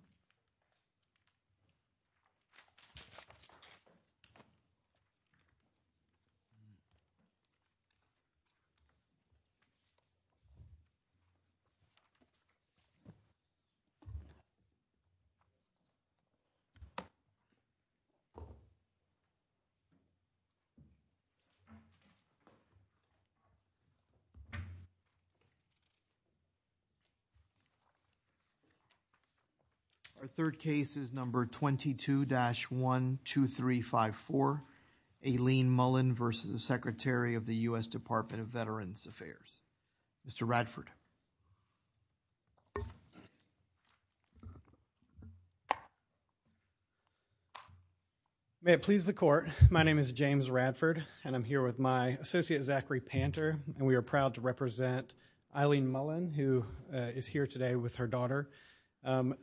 Aileen Mullin v. Secretary, U.S. Department of Veterans Affairs Our third case is number 22-12354, Aileen Mullin v. Secretary, U.S. Department of Veterans Affairs Mr. Radford May it please the court, my name is James Radford and I'm here with my associate, Zachary Panter and we are proud to represent Aileen Mullin who is here today with her daughter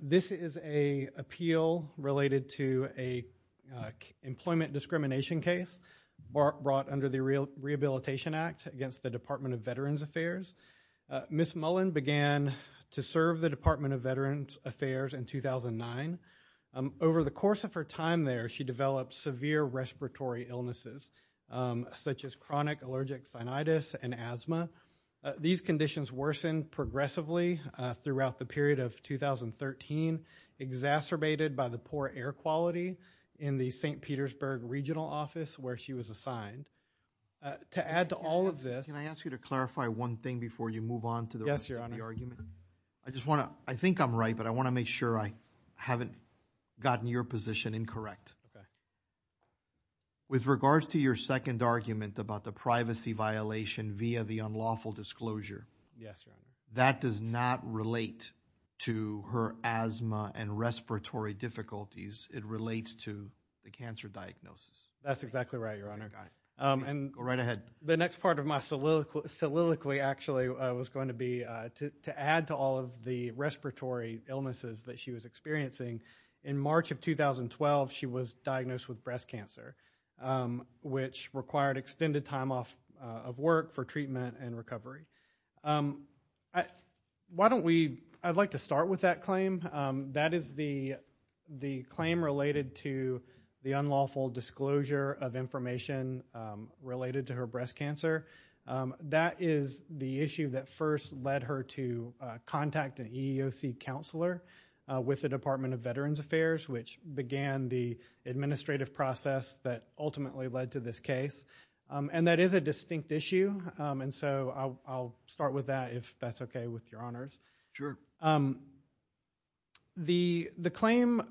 This is an appeal related to an employment discrimination case brought under the Rehabilitation Act against the Department of Veterans Affairs Ms. Mullin began to serve the Department of Veterans Affairs in 2009 Over the course of her time there, she developed severe respiratory illnesses such as chronic allergic sinusitis and asthma These conditions worsened progressively throughout the period of 2013 exacerbated by the poor air quality in the St. Petersburg Regional Office where she was assigned To add to all of this Can I ask you to clarify one thing before you move on to the rest of the argument? I just want to, I think I'm right, but I want to make sure I haven't gotten your position incorrect With regards to your second argument about the privacy violation via the unlawful disclosure Yes, Your Honor That does not relate to her asthma and respiratory difficulties It relates to the cancer diagnosis That's exactly right, Your Honor Go right ahead The next part of my soliloquy actually was going to be to add to all of the respiratory illnesses that she was experiencing In March of 2012, she was diagnosed with breast cancer which required extended time off of work for treatment and recovery Why don't we, I'd like to start with that claim That is the claim related to the unlawful disclosure of information related to her breast cancer That is the issue that first led her to contact an EEOC counselor With the Department of Veterans Affairs Which began the administrative process that ultimately led to this case And that is a distinct issue And so I'll start with that if that's okay with Your Honors Sure The claim,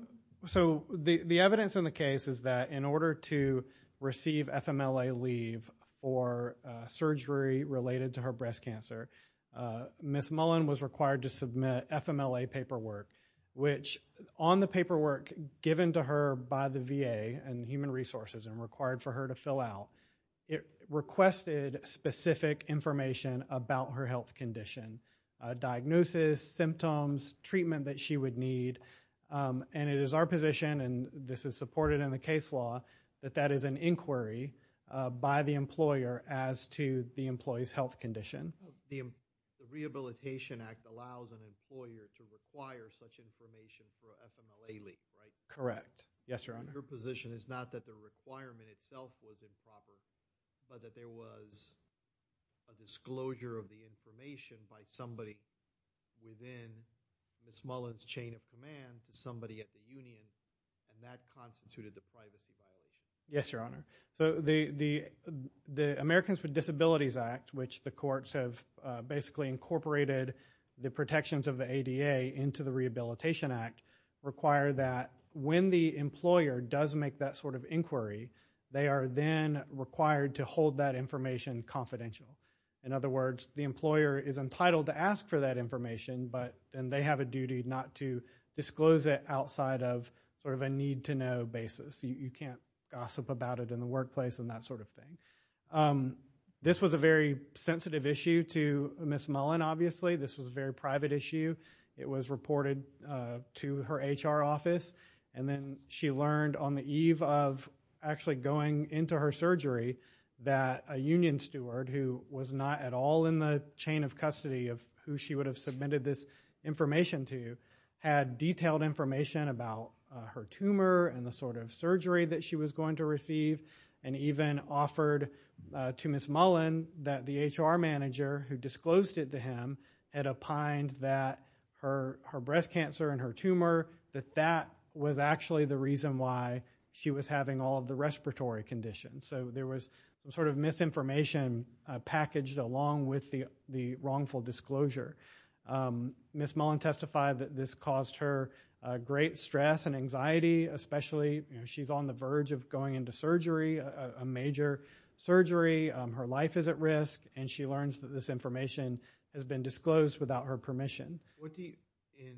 so the evidence in the case is that in order to receive FMLA leave for surgery related to her breast cancer Ms. Mullen was required to submit FMLA paperwork Which on the paperwork given to her by the VA and Human Resources and required for her to fill out It requested specific information about her health condition Diagnosis, symptoms, treatment that she would need And it is our position, and this is supported in the case law That that is an inquiry by the employer as to the employee's health condition The Rehabilitation Act allows an employer to require such information for FMLA leave, right? Correct, yes Your Honor Your position is not that the requirement itself was improper But that there was a disclosure of the information by somebody Within Ms. Mullen's chain of command to somebody at the union And that constituted the play that we saw Yes, Your Honor So the Americans with Disabilities Act Which the courts have basically incorporated the protections of the ADA Into the Rehabilitation Act Require that when the employer does make that sort of inquiry They are then required to hold that information confidential In other words, the employer is entitled to ask for that information And they have a duty not to disclose it outside of sort of a need-to-know basis You can't gossip about it in the workplace and that sort of thing This was a very sensitive issue to Ms. Mullen, obviously This was a very private issue It was reported to her HR office And then she learned on the eve of actually going into her surgery That a union steward who was not at all in the chain of custody Of who she would have submitted this information to Had detailed information about her tumor And the sort of surgery that she was going to receive And even offered to Ms. Mullen That the HR manager who disclosed it to him Had opined that her breast cancer and her tumor That that was actually the reason why she was having all of the respiratory conditions So there was some sort of misinformation packaged along with the wrongful disclosure Ms. Mullen testified that this caused her great stress and anxiety Especially, you know, she's on the verge of going into surgery A major surgery, her life is at risk And she learns that this information has been disclosed without her permission In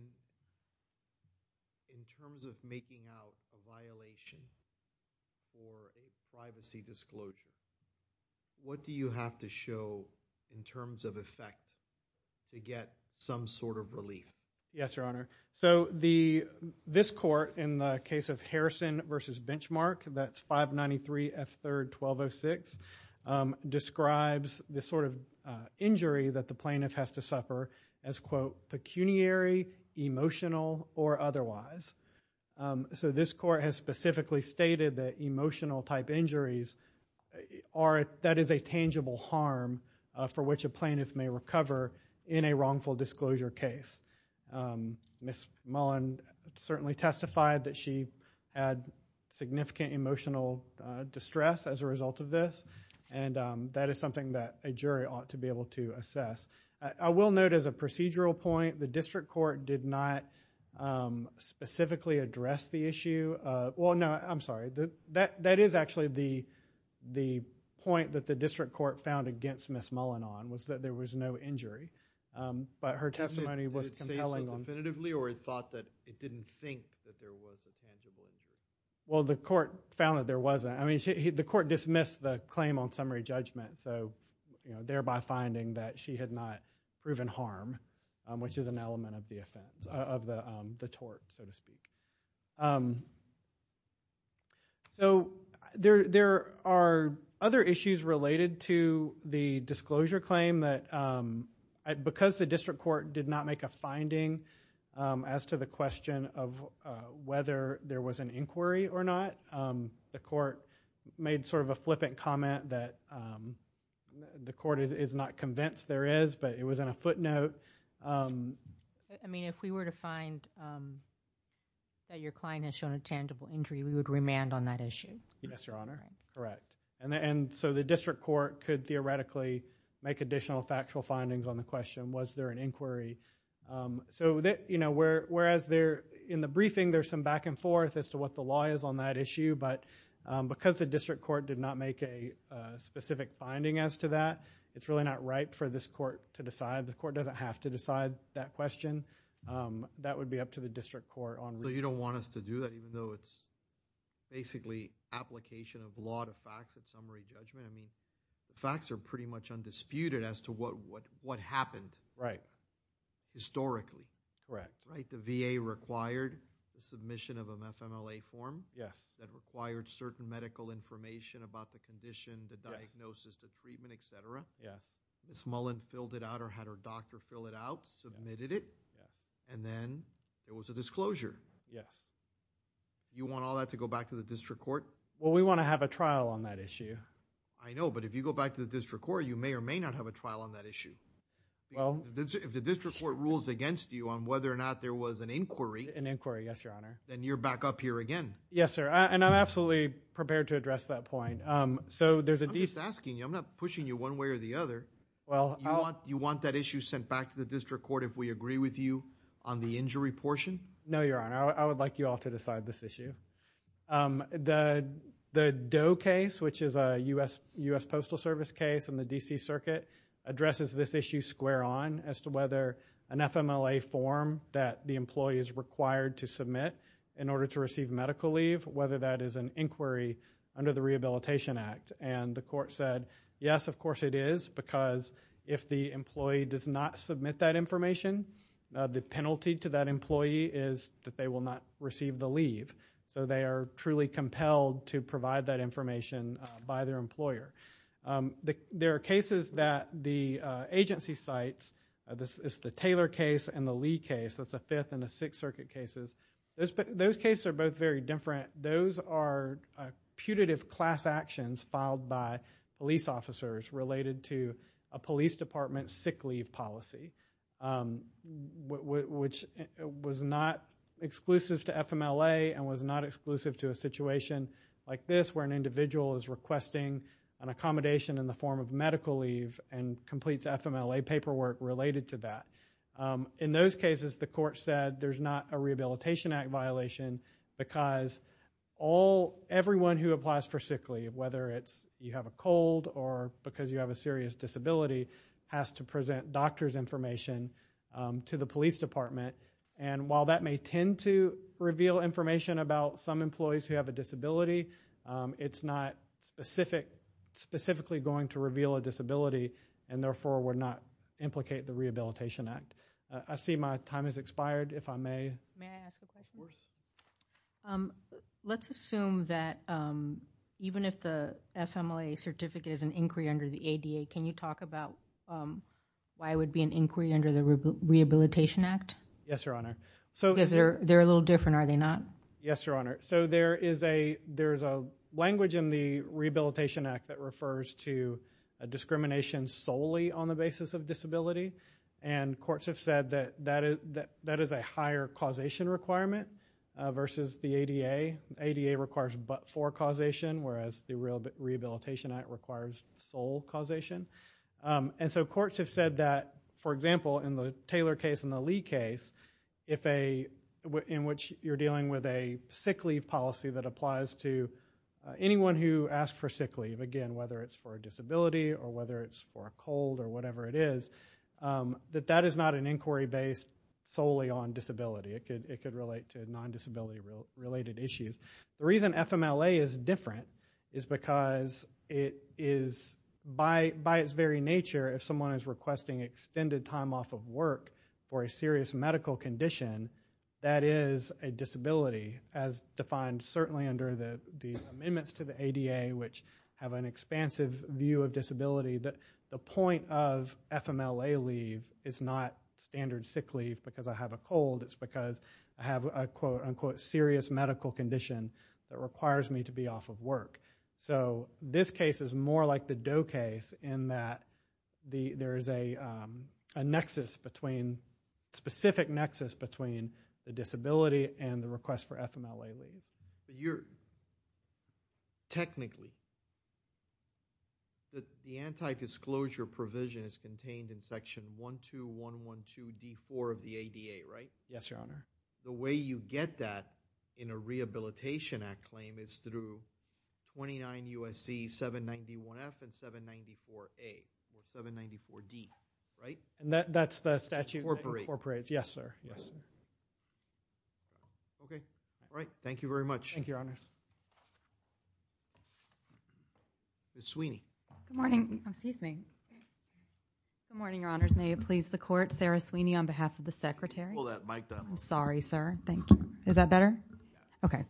terms of making out a violation for a privacy disclosure What do you have to show in terms of effect to get some sort of relief? Yes, Your Honor So this court, in the case of Harrison v. Benchmark That's 593 F. 3rd 1206 Describes the sort of injury that the plaintiff has to suffer As, quote, pecuniary, emotional, or otherwise So this court has specifically stated that emotional type injuries That is a tangible harm for which a plaintiff may recover In a wrongful disclosure case Ms. Mullen certainly testified that she had significant emotional distress As a result of this And that is something that a jury ought to be able to assess I will note as a procedural point The district court did not specifically address the issue Well, no, I'm sorry That is actually the point that the district court found against Ms. Mullen on Was that there was no injury But her testimony was compelling Did it say so definitively or it thought that it didn't think that there was a tangible injury? Well, the court found that there wasn't I mean, the court dismissed the claim on summary judgment So, you know, thereby finding that she had not proven harm Which is an element of the offense Of the tort, so to speak So there are other issues related to the disclosure claim Because the district court did not make a finding As to the question of whether there was an inquiry or not The court made sort of a flippant comment That the court is not convinced there is But it was in a footnote I mean, if we were to find that your client has shown a tangible injury We would remand on that issue Yes, your honor, correct And so the district court could theoretically Make additional factual findings on the question Was there an inquiry So, you know, whereas in the briefing There's some back and forth as to what the law is on that issue But because the district court did not make a specific finding as to that It's really not right for this court to decide The court doesn't have to decide that question That would be up to the district court on So you don't want us to do that Even though it's basically application of law to facts of summary judgment I mean, facts are pretty much undisputed as to what happened Right Historically Right The VA required the submission of an FMLA form Yes That required certain medical information about the condition The diagnosis, the treatment, etc Yes Ms. Mullen filled it out or had her doctor fill it out Submitted it And then there was a disclosure Yes You want all that to go back to the district court? Well, we want to have a trial on that issue I know, but if you go back to the district court You may or may not have a trial on that issue Well If the district court rules against you on whether or not there was an inquiry An inquiry, yes, your honor Then you're back up here again Yes, sir And I'm absolutely prepared to address that point So there's a I'm just asking you I'm not pushing you one way or the other You want that issue sent back to the district court If we agree with you on the injury portion? No, your honor I would like you all to decide this issue The Doe case, which is a U.S. Postal Service case In the D.C. Circuit Addresses this issue square on As to whether an FMLA form That the employee is required to submit In order to receive medical leave Whether that is an inquiry under the Rehabilitation Act And the court said Yes, of course it is Because if the employee does not submit that information The penalty to that employee is That they will not receive the leave So they are truly compelled to provide that information By their employer There are cases that the agency cites It's the Taylor case and the Lee case That's the Fifth and the Sixth Circuit cases Those cases are both very different Those are putative class actions Filed by police officers Related to a police department's sick leave policy Which was not exclusive to FMLA And was not exclusive to a situation like this Where an individual is requesting An accommodation in the form of medical leave And completes FMLA paperwork related to that In those cases the court said There's not a Rehabilitation Act violation Because everyone who applies for sick leave Whether you have a cold Or because you have a serious disability Has to present doctor's information And while that may tend to reveal information About some employees who have a disability It's not specifically going to reveal a disability And therefore would not implicate the Rehabilitation Act I see my time has expired, if I may May I ask a question? Let's assume that Even if the FMLA certificate is an inquiry under the ADA Can you talk about Why it would be an inquiry under the Rehabilitation Act? Yes, Your Honor Because they're a little different, are they not? Yes, Your Honor So there's a language in the Rehabilitation Act That refers to discrimination solely On the basis of disability And courts have said that That is a higher causation requirement Versus the ADA ADA requires but-for causation Whereas the Rehabilitation Act requires sole causation And so courts have said that For example, in the Taylor case and the Lee case In which you're dealing with a sick leave policy That applies to anyone who asks for sick leave Again, whether it's for a disability Or whether it's for a cold or whatever it is That that is not an inquiry based solely on disability It could relate to non-disability related issues The reason FMLA is different Is because it is By its very nature If someone is requesting extended time off of work Or a serious medical condition That is a disability As defined certainly under the amendments to the ADA Which have an expansive view of disability That the point of FMLA leave Is not standard sick leave because I have a cold It's because I have a quote-unquote Serious medical condition That requires me to be off of work So this case is more like the Doe case In that there is a nexus between A specific nexus between the disability And the request for FMLA leave Technically The anti-disclosure provision is contained In section 12112D4 of the ADA, right? Yes, your honor The way you get that in a Rehabilitation Act claim Is through 29 U.S.C. 791F and 794A Or 794D, right? That's the statute that incorporates Yes, sir Okay, all right, thank you very much Thank you, your honors Ms. Sweeney Good morning, excuse me Good morning, your honors May it please the court Sarah Sweeney on behalf of the secretary Hold that mic down I'm sorry, sir, thank you Is that better? Okay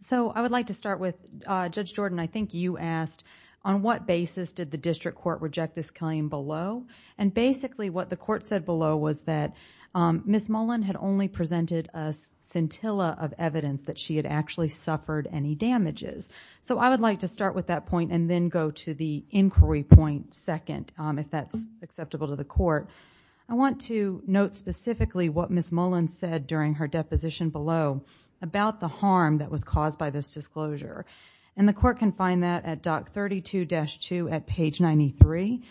So I would like to start with Judge Jordan I think you asked On what basis did the district court Reject this claim below? And basically what the court said below Was that Ms. Mullen had only presented A scintilla of evidence That she had actually suffered any damages So I would like to start with that point And then go to the inquiry point second If that's acceptable to the court I want to note specifically What Ms. Mullen said During her deposition below About the harm That was caused by this disclosure And the court can find that At Doc 32-2 at page 93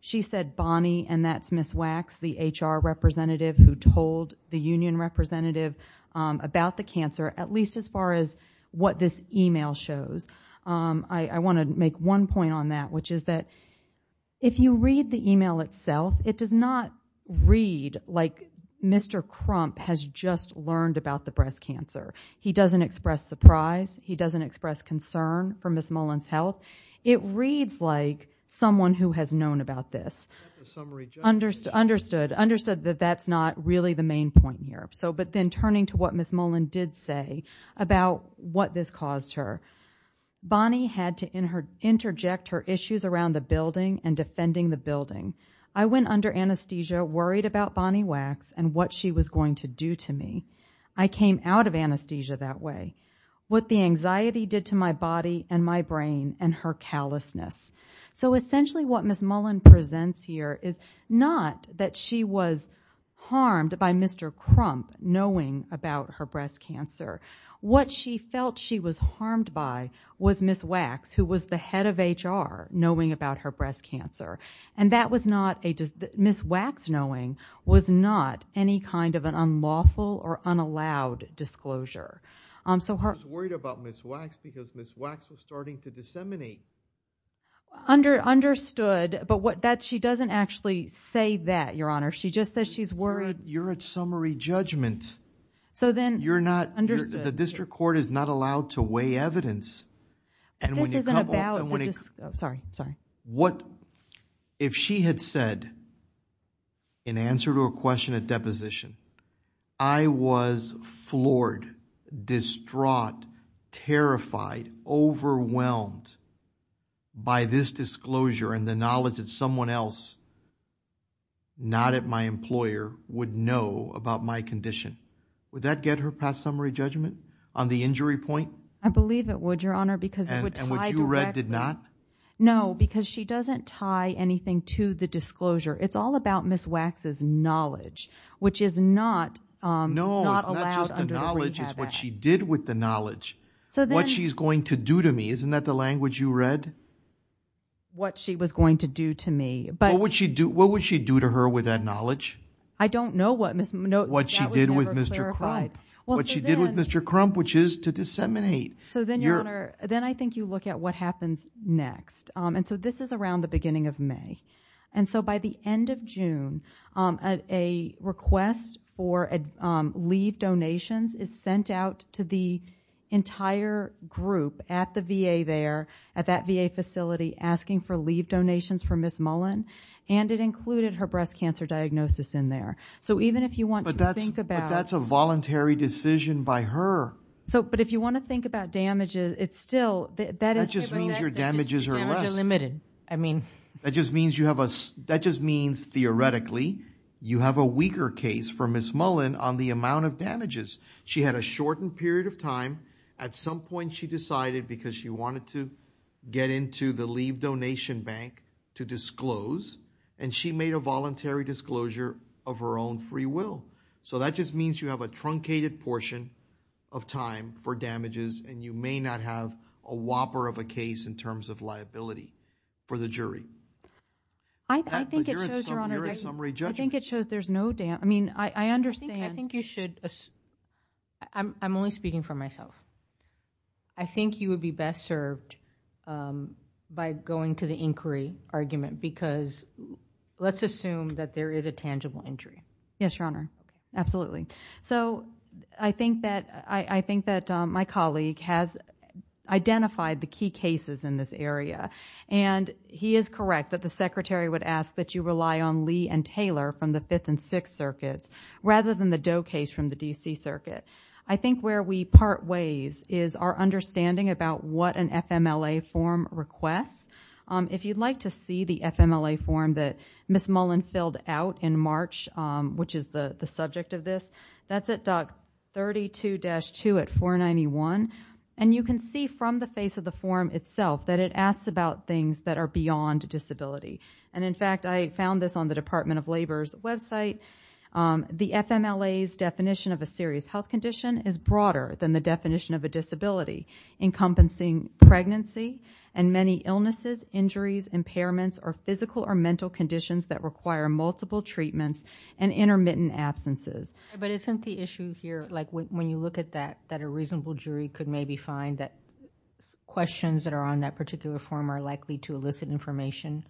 She said Bonnie And that's Ms. Wax The HR representative Who told the union representative About the cancer At least as far as What this email shows I want to make one point on that Which is that If you read the email itself It does not read Like Mr. Crump Has just learned about the breast cancer He doesn't express surprise He doesn't express concern For Ms. Mullen's health It reads like Someone who has known about this Understood Understood that that's not Really the main point here But then turning to what Ms. Mullen did say About what this caused her Bonnie had to interject Her issues around the building And defending the building I went under anesthesia Worried about Bonnie Wax And what she was going to do to me I came out of anesthesia that way What the anxiety did to my body And my brain And her callousness So essentially what Ms. Mullen presents here Is not that she was harmed By Mr. Crump Knowing about her breast cancer What she felt she was harmed by Was Ms. Wax Who was the head of HR Knowing about her breast cancer And that was not Ms. Wax knowing Was not any kind of an unlawful Or unallowed disclosure She was worried about Ms. Wax Because Ms. Wax was starting to disseminate Understood But she doesn't actually say that Your Honor She just says she's worried You're at summary judgment So then You're not The district court is not allowed To weigh evidence This isn't about Sorry What If she had said In answer to a question at deposition I was floored Distraught Terrified Overwhelmed By this disclosure And the knowledge that someone else Not at my employer Would know about my condition Would that get her past summary judgment On the injury point I believe it would Your Honor Because it would tie directly And what you read did not No Because she doesn't tie anything To the disclosure It's all about Ms. Wax's knowledge Which is not Not allowed under the rehab act It's what she did with the knowledge What she's going to do to me Isn't that the language you read What she was going to do to me What would she do to her With that knowledge I don't know what What she did with Mr. Crump What she did with Mr. Crump Which is to disseminate So then Your Honor Then I think you look at What happens next And so this is around The beginning of May And so by the end of June A request for leave donations Is sent out to the entire group At the VA there At that VA facility Asking for leave donations For Ms. Mullen And it included her Breast cancer diagnosis in there So even if you want to think about But that's a voluntary decision by her But if you want to think about damages It's still That just means your damages are less Your damages are limited I mean That just means you have a That just means theoretically You have a weaker case for Ms. Mullen On the amount of damages She had a shortened period of time At some point she decided Because she wanted to Get into the leave donation bank To disclose And she made a voluntary disclosure Of her own free will So that just means you have A truncated portion of time For damages And you may not have A whopper of a case In terms of liability For the jury I think it shows You're at summary judgment I think it shows there's no I mean I understand I think you should I'm only speaking for myself I think you would be best served By going to the inquiry argument Because let's assume That there is a tangible injury Yes your honor Absolutely So I think that My colleague has identified The key cases in this area And he is correct That the secretary would ask That you rely on Lee and Taylor From the 5th and 6th circuits Rather than the Doe case From the D.C. circuit I think where we part ways Is our understanding about What an FMLA form requests If you'd like to see the FMLA form That Ms. Mullen filled out in March Which is the subject of this That's at doc32-2 at 491 And you can see from the face of the form itself That it asks about things That are beyond disability And in fact I found this On the Department of Labor's website The FMLA's definition Of a serious health condition Is broader than the definition Of a disability Encompassing pregnancy And many illnesses, injuries, impairments Or physical or mental conditions That require multiple treatments And intermittent absences But isn't the issue here Like when you look at that That a reasonable jury Could maybe find that Questions that are on that particular form Are likely to elicit information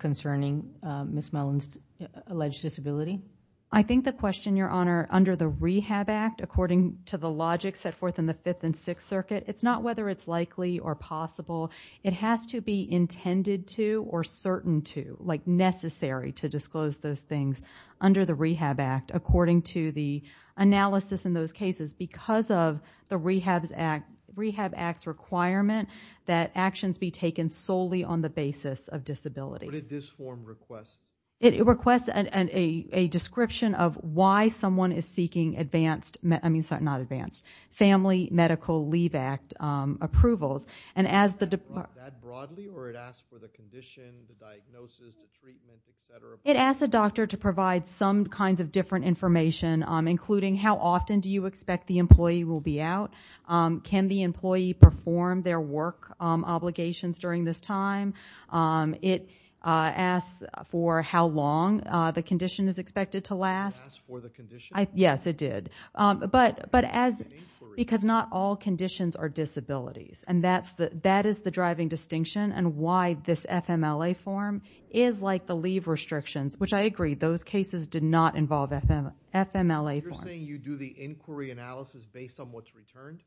Concerning Ms. Mullen's Alleged disability I think the question, Your Honor Under the Rehab Act According to the logic Set forth in the 5th and 6th circuit It's not whether it's likely Or possible It has to be intended to Or certain to Like necessary To disclose those things Under the Rehab Act According to the analysis In those cases Because of the Rehab Act's requirement That actions be taken Solely on the basis of disability What did this form request? It requests a description Of why someone is seeking advanced I mean, sorry, not advanced Family Medical Leave Act approvals And as the Is that broadly Or it asks for the condition The diagnosis The treatment, et cetera It asks a doctor To provide some kinds Of different information Including how often Do you expect the employee Will be out Can the employee perform Their work obligations During this time It asks for how long The condition is expected to last It asks for the condition Yes, it did But as Because not all conditions Are disabilities And that is the driving distinction And why this FMLA form Is like the leave restrictions Which I agree Those cases did not involve FMLA forms You're saying you do The inquiry analysis Based on what's returned?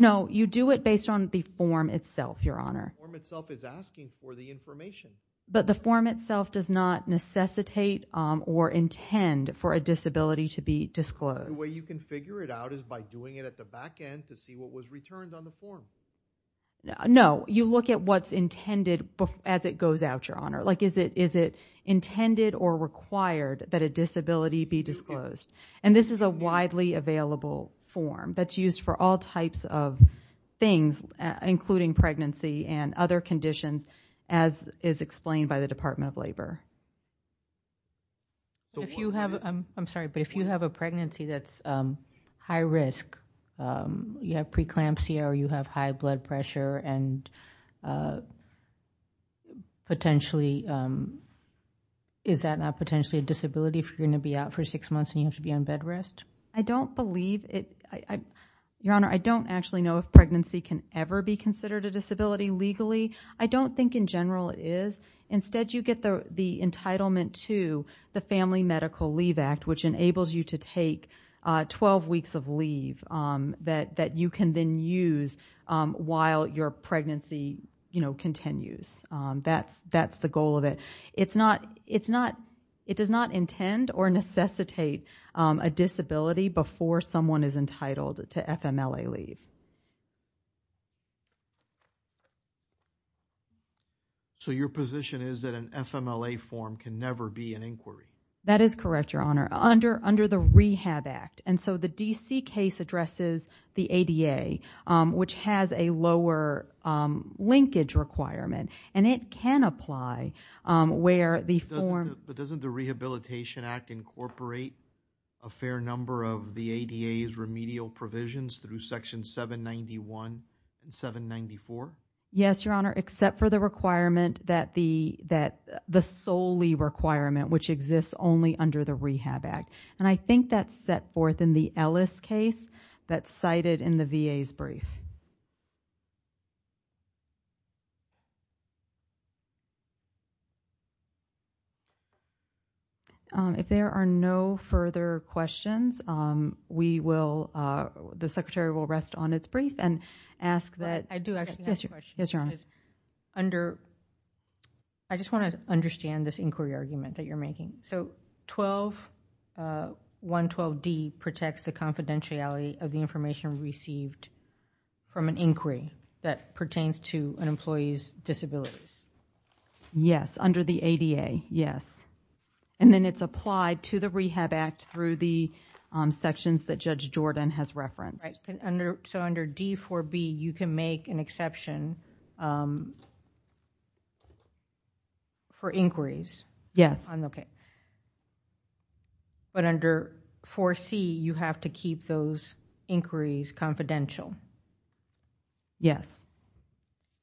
No, you do it Based on the form itself, Your Honor The form itself is asking For the information But the form itself Does not necessitate Or intend For a disability to be disclosed The way you can figure it out Is by doing it at the back end To see what was returned On the form No, you look at what's intended As it goes out, Your Honor Like is it intended Or required That a disability be disclosed And this is a widely available form That's used for all types of things Including pregnancy And other conditions As is explained By the Department of Labor If you have I'm sorry But if you have a pregnancy That's high risk You have preeclampsia Or you have high blood pressure And is that not Potentially a disability If you're going to be out For six months And you have to be on bed rest? I don't believe Your Honor, I don't actually know If pregnancy can ever be considered A disability legally I don't think in general it is Instead you get the entitlement To the Family Medical Leave Act Which enables you to take Twelve weeks of leave That you can then use While your pregnancy continues That's the goal of it It's not It does not intend Or necessitate a disability Before someone is entitled To FMLA leave So your position is That an FMLA form Can never be an inquiry? That is correct, Your Honor Under the Rehab Act And so the DC case Addresses the ADA Which has a lower linkage requirement And it can apply Where the form But doesn't the Rehabilitation Act Incorporate a fair number of The ADA's remedial provisions Through Section 791 and 794? Yes, Your Honor Except for the requirement That the solely requirement Which exists only under the Rehab Act And I think that's set forth In the Ellis case That's cited in the VA's brief If there are no further questions We will The Secretary will rest on its brief And ask that I do actually have a question Yes, Your Honor Under I just want to understand This inquiry argument That you're making So 12.112D Protects the confidentiality Of the information received From an inquiry That pertains to An employee's disabilities Yes, under the ADA Yes And then it's applied To the Rehab Act Through the sections That Judge Jordan has referenced So under D4B You can make an exception For inquiries Yes But under 4C You have to keep those inquiries confidential Yes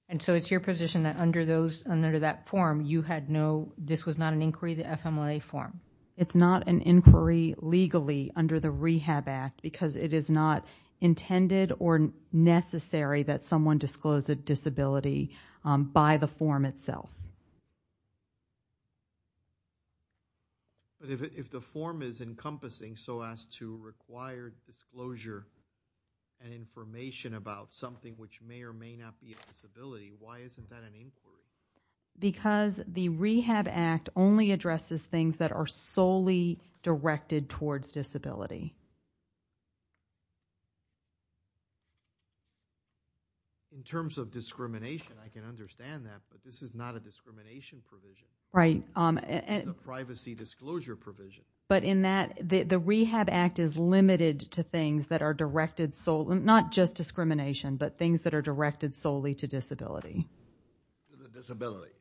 And so it's your position That under those Under that form You had no This was not an inquiry The FMLA form It's not an inquiry Legally Under the Rehab Act Because it is not Intended or necessary That someone disclosed a disability By the form itself Yes But if the form is encompassing So as to require disclosure And information about something Which may or may not be a disability Why isn't that an inquiry? Because the Rehab Act Only addresses things That are solely directed Towards disability In terms of discrimination I can understand that But this is not a discrimination provision Right It's a privacy disclosure provision But in that The Rehab Act is limited To things that are directed solely Not just discrimination But things that are directed solely To disability To the disability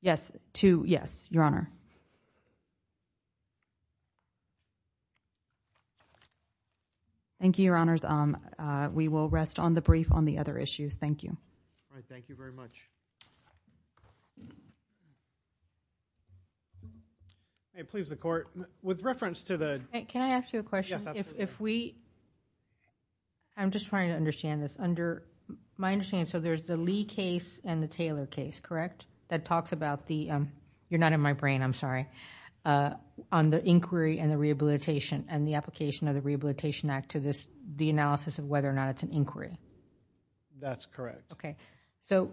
Yes To, yes, Your Honor Thank you, Your Honors We will rest on the brief On the other issues Thank you All right, thank you very much Thank you Please, the Court With reference to the Can I ask you a question? Yes, absolutely If we I'm just trying to understand this Under My understanding is So there's the Lee case And the Taylor case Correct? That talks about the You're not in my brain I'm sorry On the inquiry and the rehabilitation And the application of the Rehabilitation Act To this The analysis of whether or not It's an inquiry That's correct Okay, so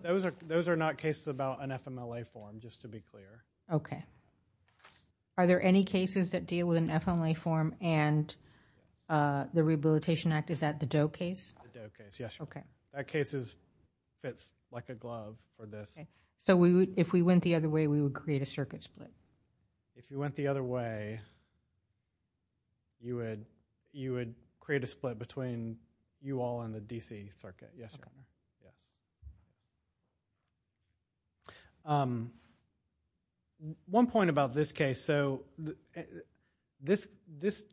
Those are not cases About an FMLA form Just to be clear Okay Are there any cases That deal with an FMLA form And The Rehabilitation Act Is that the Doe case? The Doe case, yes Okay That case is Fits like a glove For this So we would If we went the other way We would create a circuit split If you went the other way You would You would create a split Between you all And the DC circuit Yes, Your Honor Um One point about this case So This This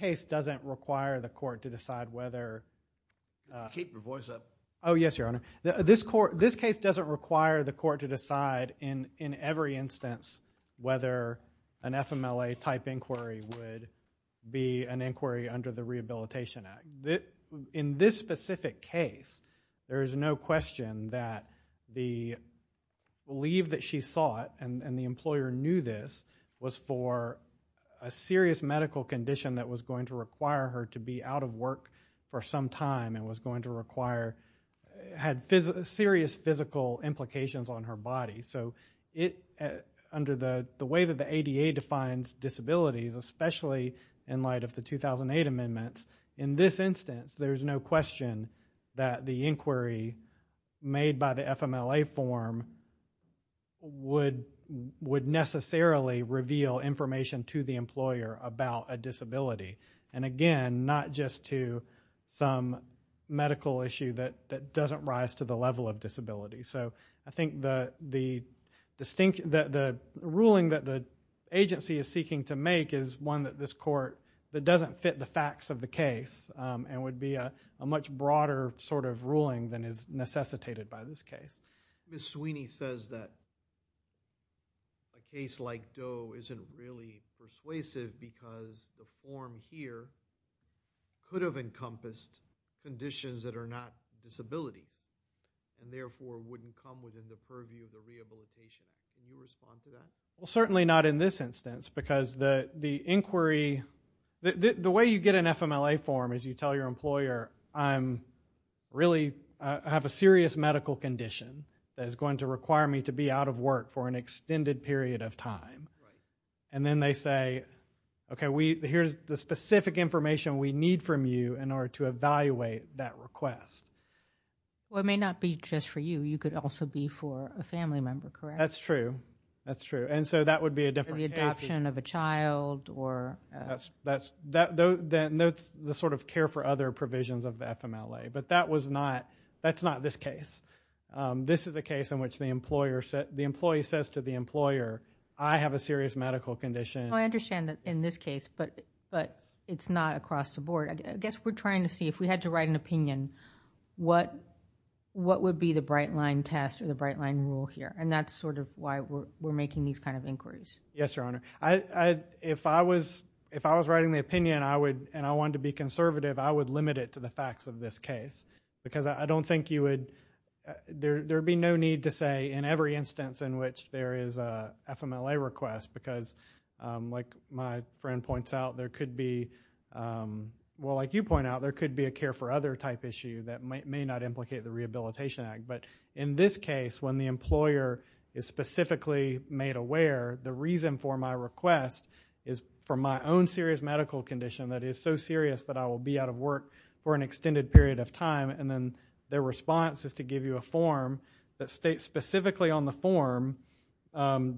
Case doesn't require the court To decide whether Keep your voice up Oh yes, Your Honor This court This case doesn't require the court To decide In every instance Whether An FMLA type inquiry Would Be an inquiry Under the Rehabilitation Act In this specific case There is no question That The Leave that she sought And the employer knew this Was for A serious medical condition That was going to require her To be out of work For some time And was going to require Had Serious physical implications On her body So It Under the The way that the ADA defines Disabilities Especially In light of the 2008 amendments In this instance There is no question That the inquiry Made by the FMLA form Would Would necessarily Reveal information To the employer About a disability And again Not just to Some Medical issue That doesn't rise To the level of disability So I think the The The Ruling that the Agency is seeking To make Is one that this court That doesn't fit the facts Of the case And would be A much broader Sort of ruling Than is Necessitated by this case Ms. Sweeney says that A case like Doe Isn't really Persuasive Because The form here Could have encompassed Conditions that are not Disability And therefore Wouldn't come within the purview Of the rehabilitation Can you respond to that? Well certainly not in this instance Because the The inquiry The way you get an FMLA form Is you tell your employer I'm Really I have a serious medical condition That is going to require me To be out of work For an extended period of time And then they say Okay we Here's the specific information We need from you In order to evaluate That request Well it may not be Just for you You could also be For a family member Correct? That's true That's true And so that would be A different case For the adoption of a child Or That's The sort of Care for other provisions Of the FMLA But that was not That's not this case This is a case in which The employer The employee says to the employer I have a serious medical condition Well I understand that In this case But it's not across the board I guess we're trying to see If we had to write an opinion What What would be the Bright line test Or the bright line rule here And that's sort of Why we're making These kind of inquiries Yes your honor I If I was If I was writing the opinion I would And I wanted to be Conservative I would limit it To the facts of this case Because I don't think You would There would be no need To say In every instance In which there is A FMLA request Because Like My friend points out There could be Well like you point out There could be A care for other Type issue That may not Implicate the rehabilitation act But In this case When the employer Is specifically Made aware The reason for my request Is For my own Very serious Medical condition That is so serious That I will be out of work For an extended period Of time And then Their response Is to give you a form That states specifically On the form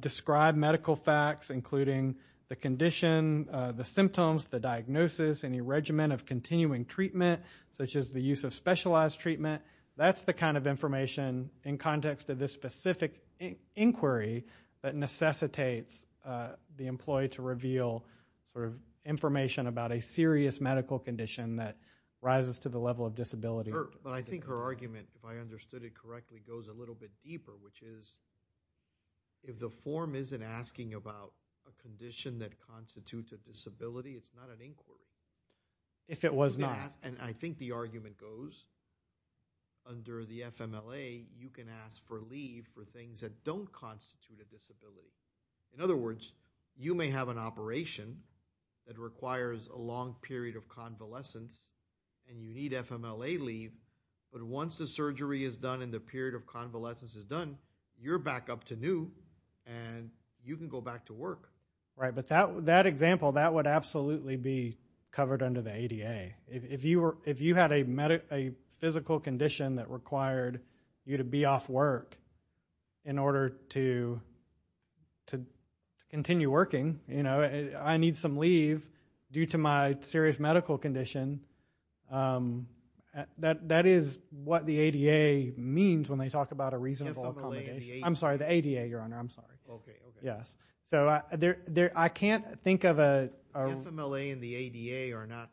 Describe medical facts Including The condition The symptoms The diagnosis Any regimen Of continuing treatment Such as the use Of specialized treatment That's the kind Of information In context Of this specific Inquiry That necessitates The employee To reveal Sort of Information About a serious Medical condition That rises To the level Of disability But I think Her argument If I understood it Correctly Goes a little bit Deeper Which is If the form Isn't asking about A condition That constitutes A disability It's not an inquiry If it was not And I think The argument Goes Under the FMLA You can ask For leave For things That don't Constitute A disability In other words You may have An operation That requires A long period Of convalescence And you need FMLA leave But once the Surgery is done And the period Of convalescence Is done You're back up To new And you can go Back to work Right but that Example That would Absolutely be Covered under The ADA If you were If you had A physical Condition That required You to be Off work In order To Continue Working You know I need some Leave Due to my Serious medical Condition That is What the ADA Means when they Talk about A reasonable I'm sorry The ADA Your honor I'm sorry Yes So I can't Think of a FMLA and the ADA Are not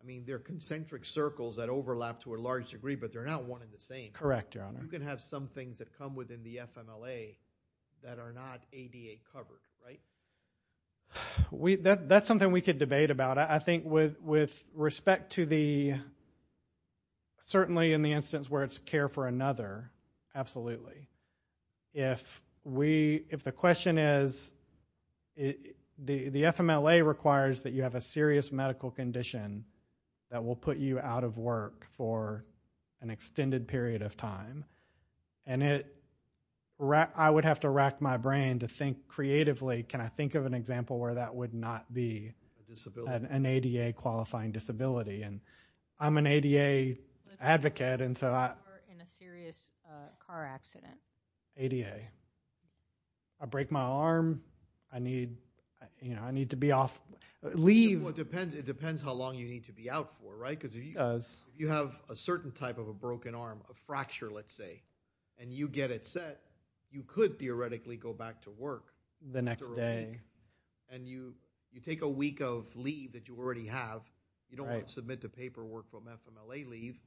I mean They're concentric Circles that overlap To a large degree But they're not One and the same Correct your honor You can have Some things that Come within The FMLA That are not ADA Covered Right We that That's something We could Debate about I think With with Respect to The Certainly in The instance Where it's Care for another Absolutely If we If the Question is The FMLA Requires that You have A serious Medical condition That will put You out of work For an Extended period Of time And it I would have To rack My brain To think Creatively Can I think Of an example Where that Would not Be an ADA Qualifying Disability I'm an ADA Advocate In a Serious Car Accident ADA I break My arm I need To be Off Leave It depends How long You need To be Out For You have A certain Type of Broken Arm A fracture Let's say And you Get it Set You could Theoretically Go back To work The next Day And you You take A week Of leave That you Already have You don't Have to Submit to Paperwork From FMLA Leave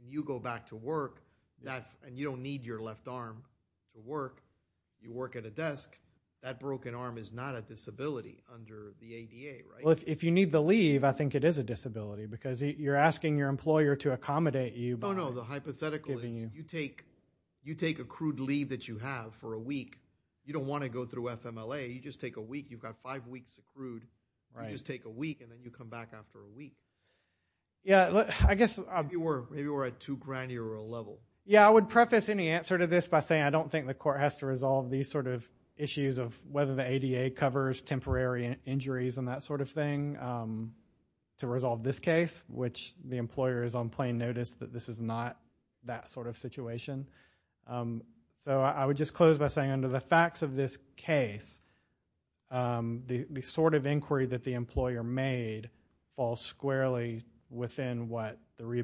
And you Go back To work And you Don't need Your left Arm To work You work At a Desk That Broken Arm Is not A disability Under The ADA If you Need the Leave I think It is A disability You're Asking your Employer To accommodate You You take A crude Leave That you Have For a Week You don't Want to Go through FMLA You just Take a Week You've Got five Weeks Of crude You just Take a Week And then you Come back After a Week Maybe we're At too Granular A level Yeah I Would Preface Any Answer To This By Saying I Don't Want That To Be A Disability Under The ADA I Would Just Close By Saying Under The Facts Of This Case The Sort Of Inquiry That The Employer Made For Me Saying Want That To Be A Disability Under The ADA I Would Just Close By Saying I Don't Want Would Just Close By Saying I Don't Want That To Be A Disability Under The ADA I Would Just Close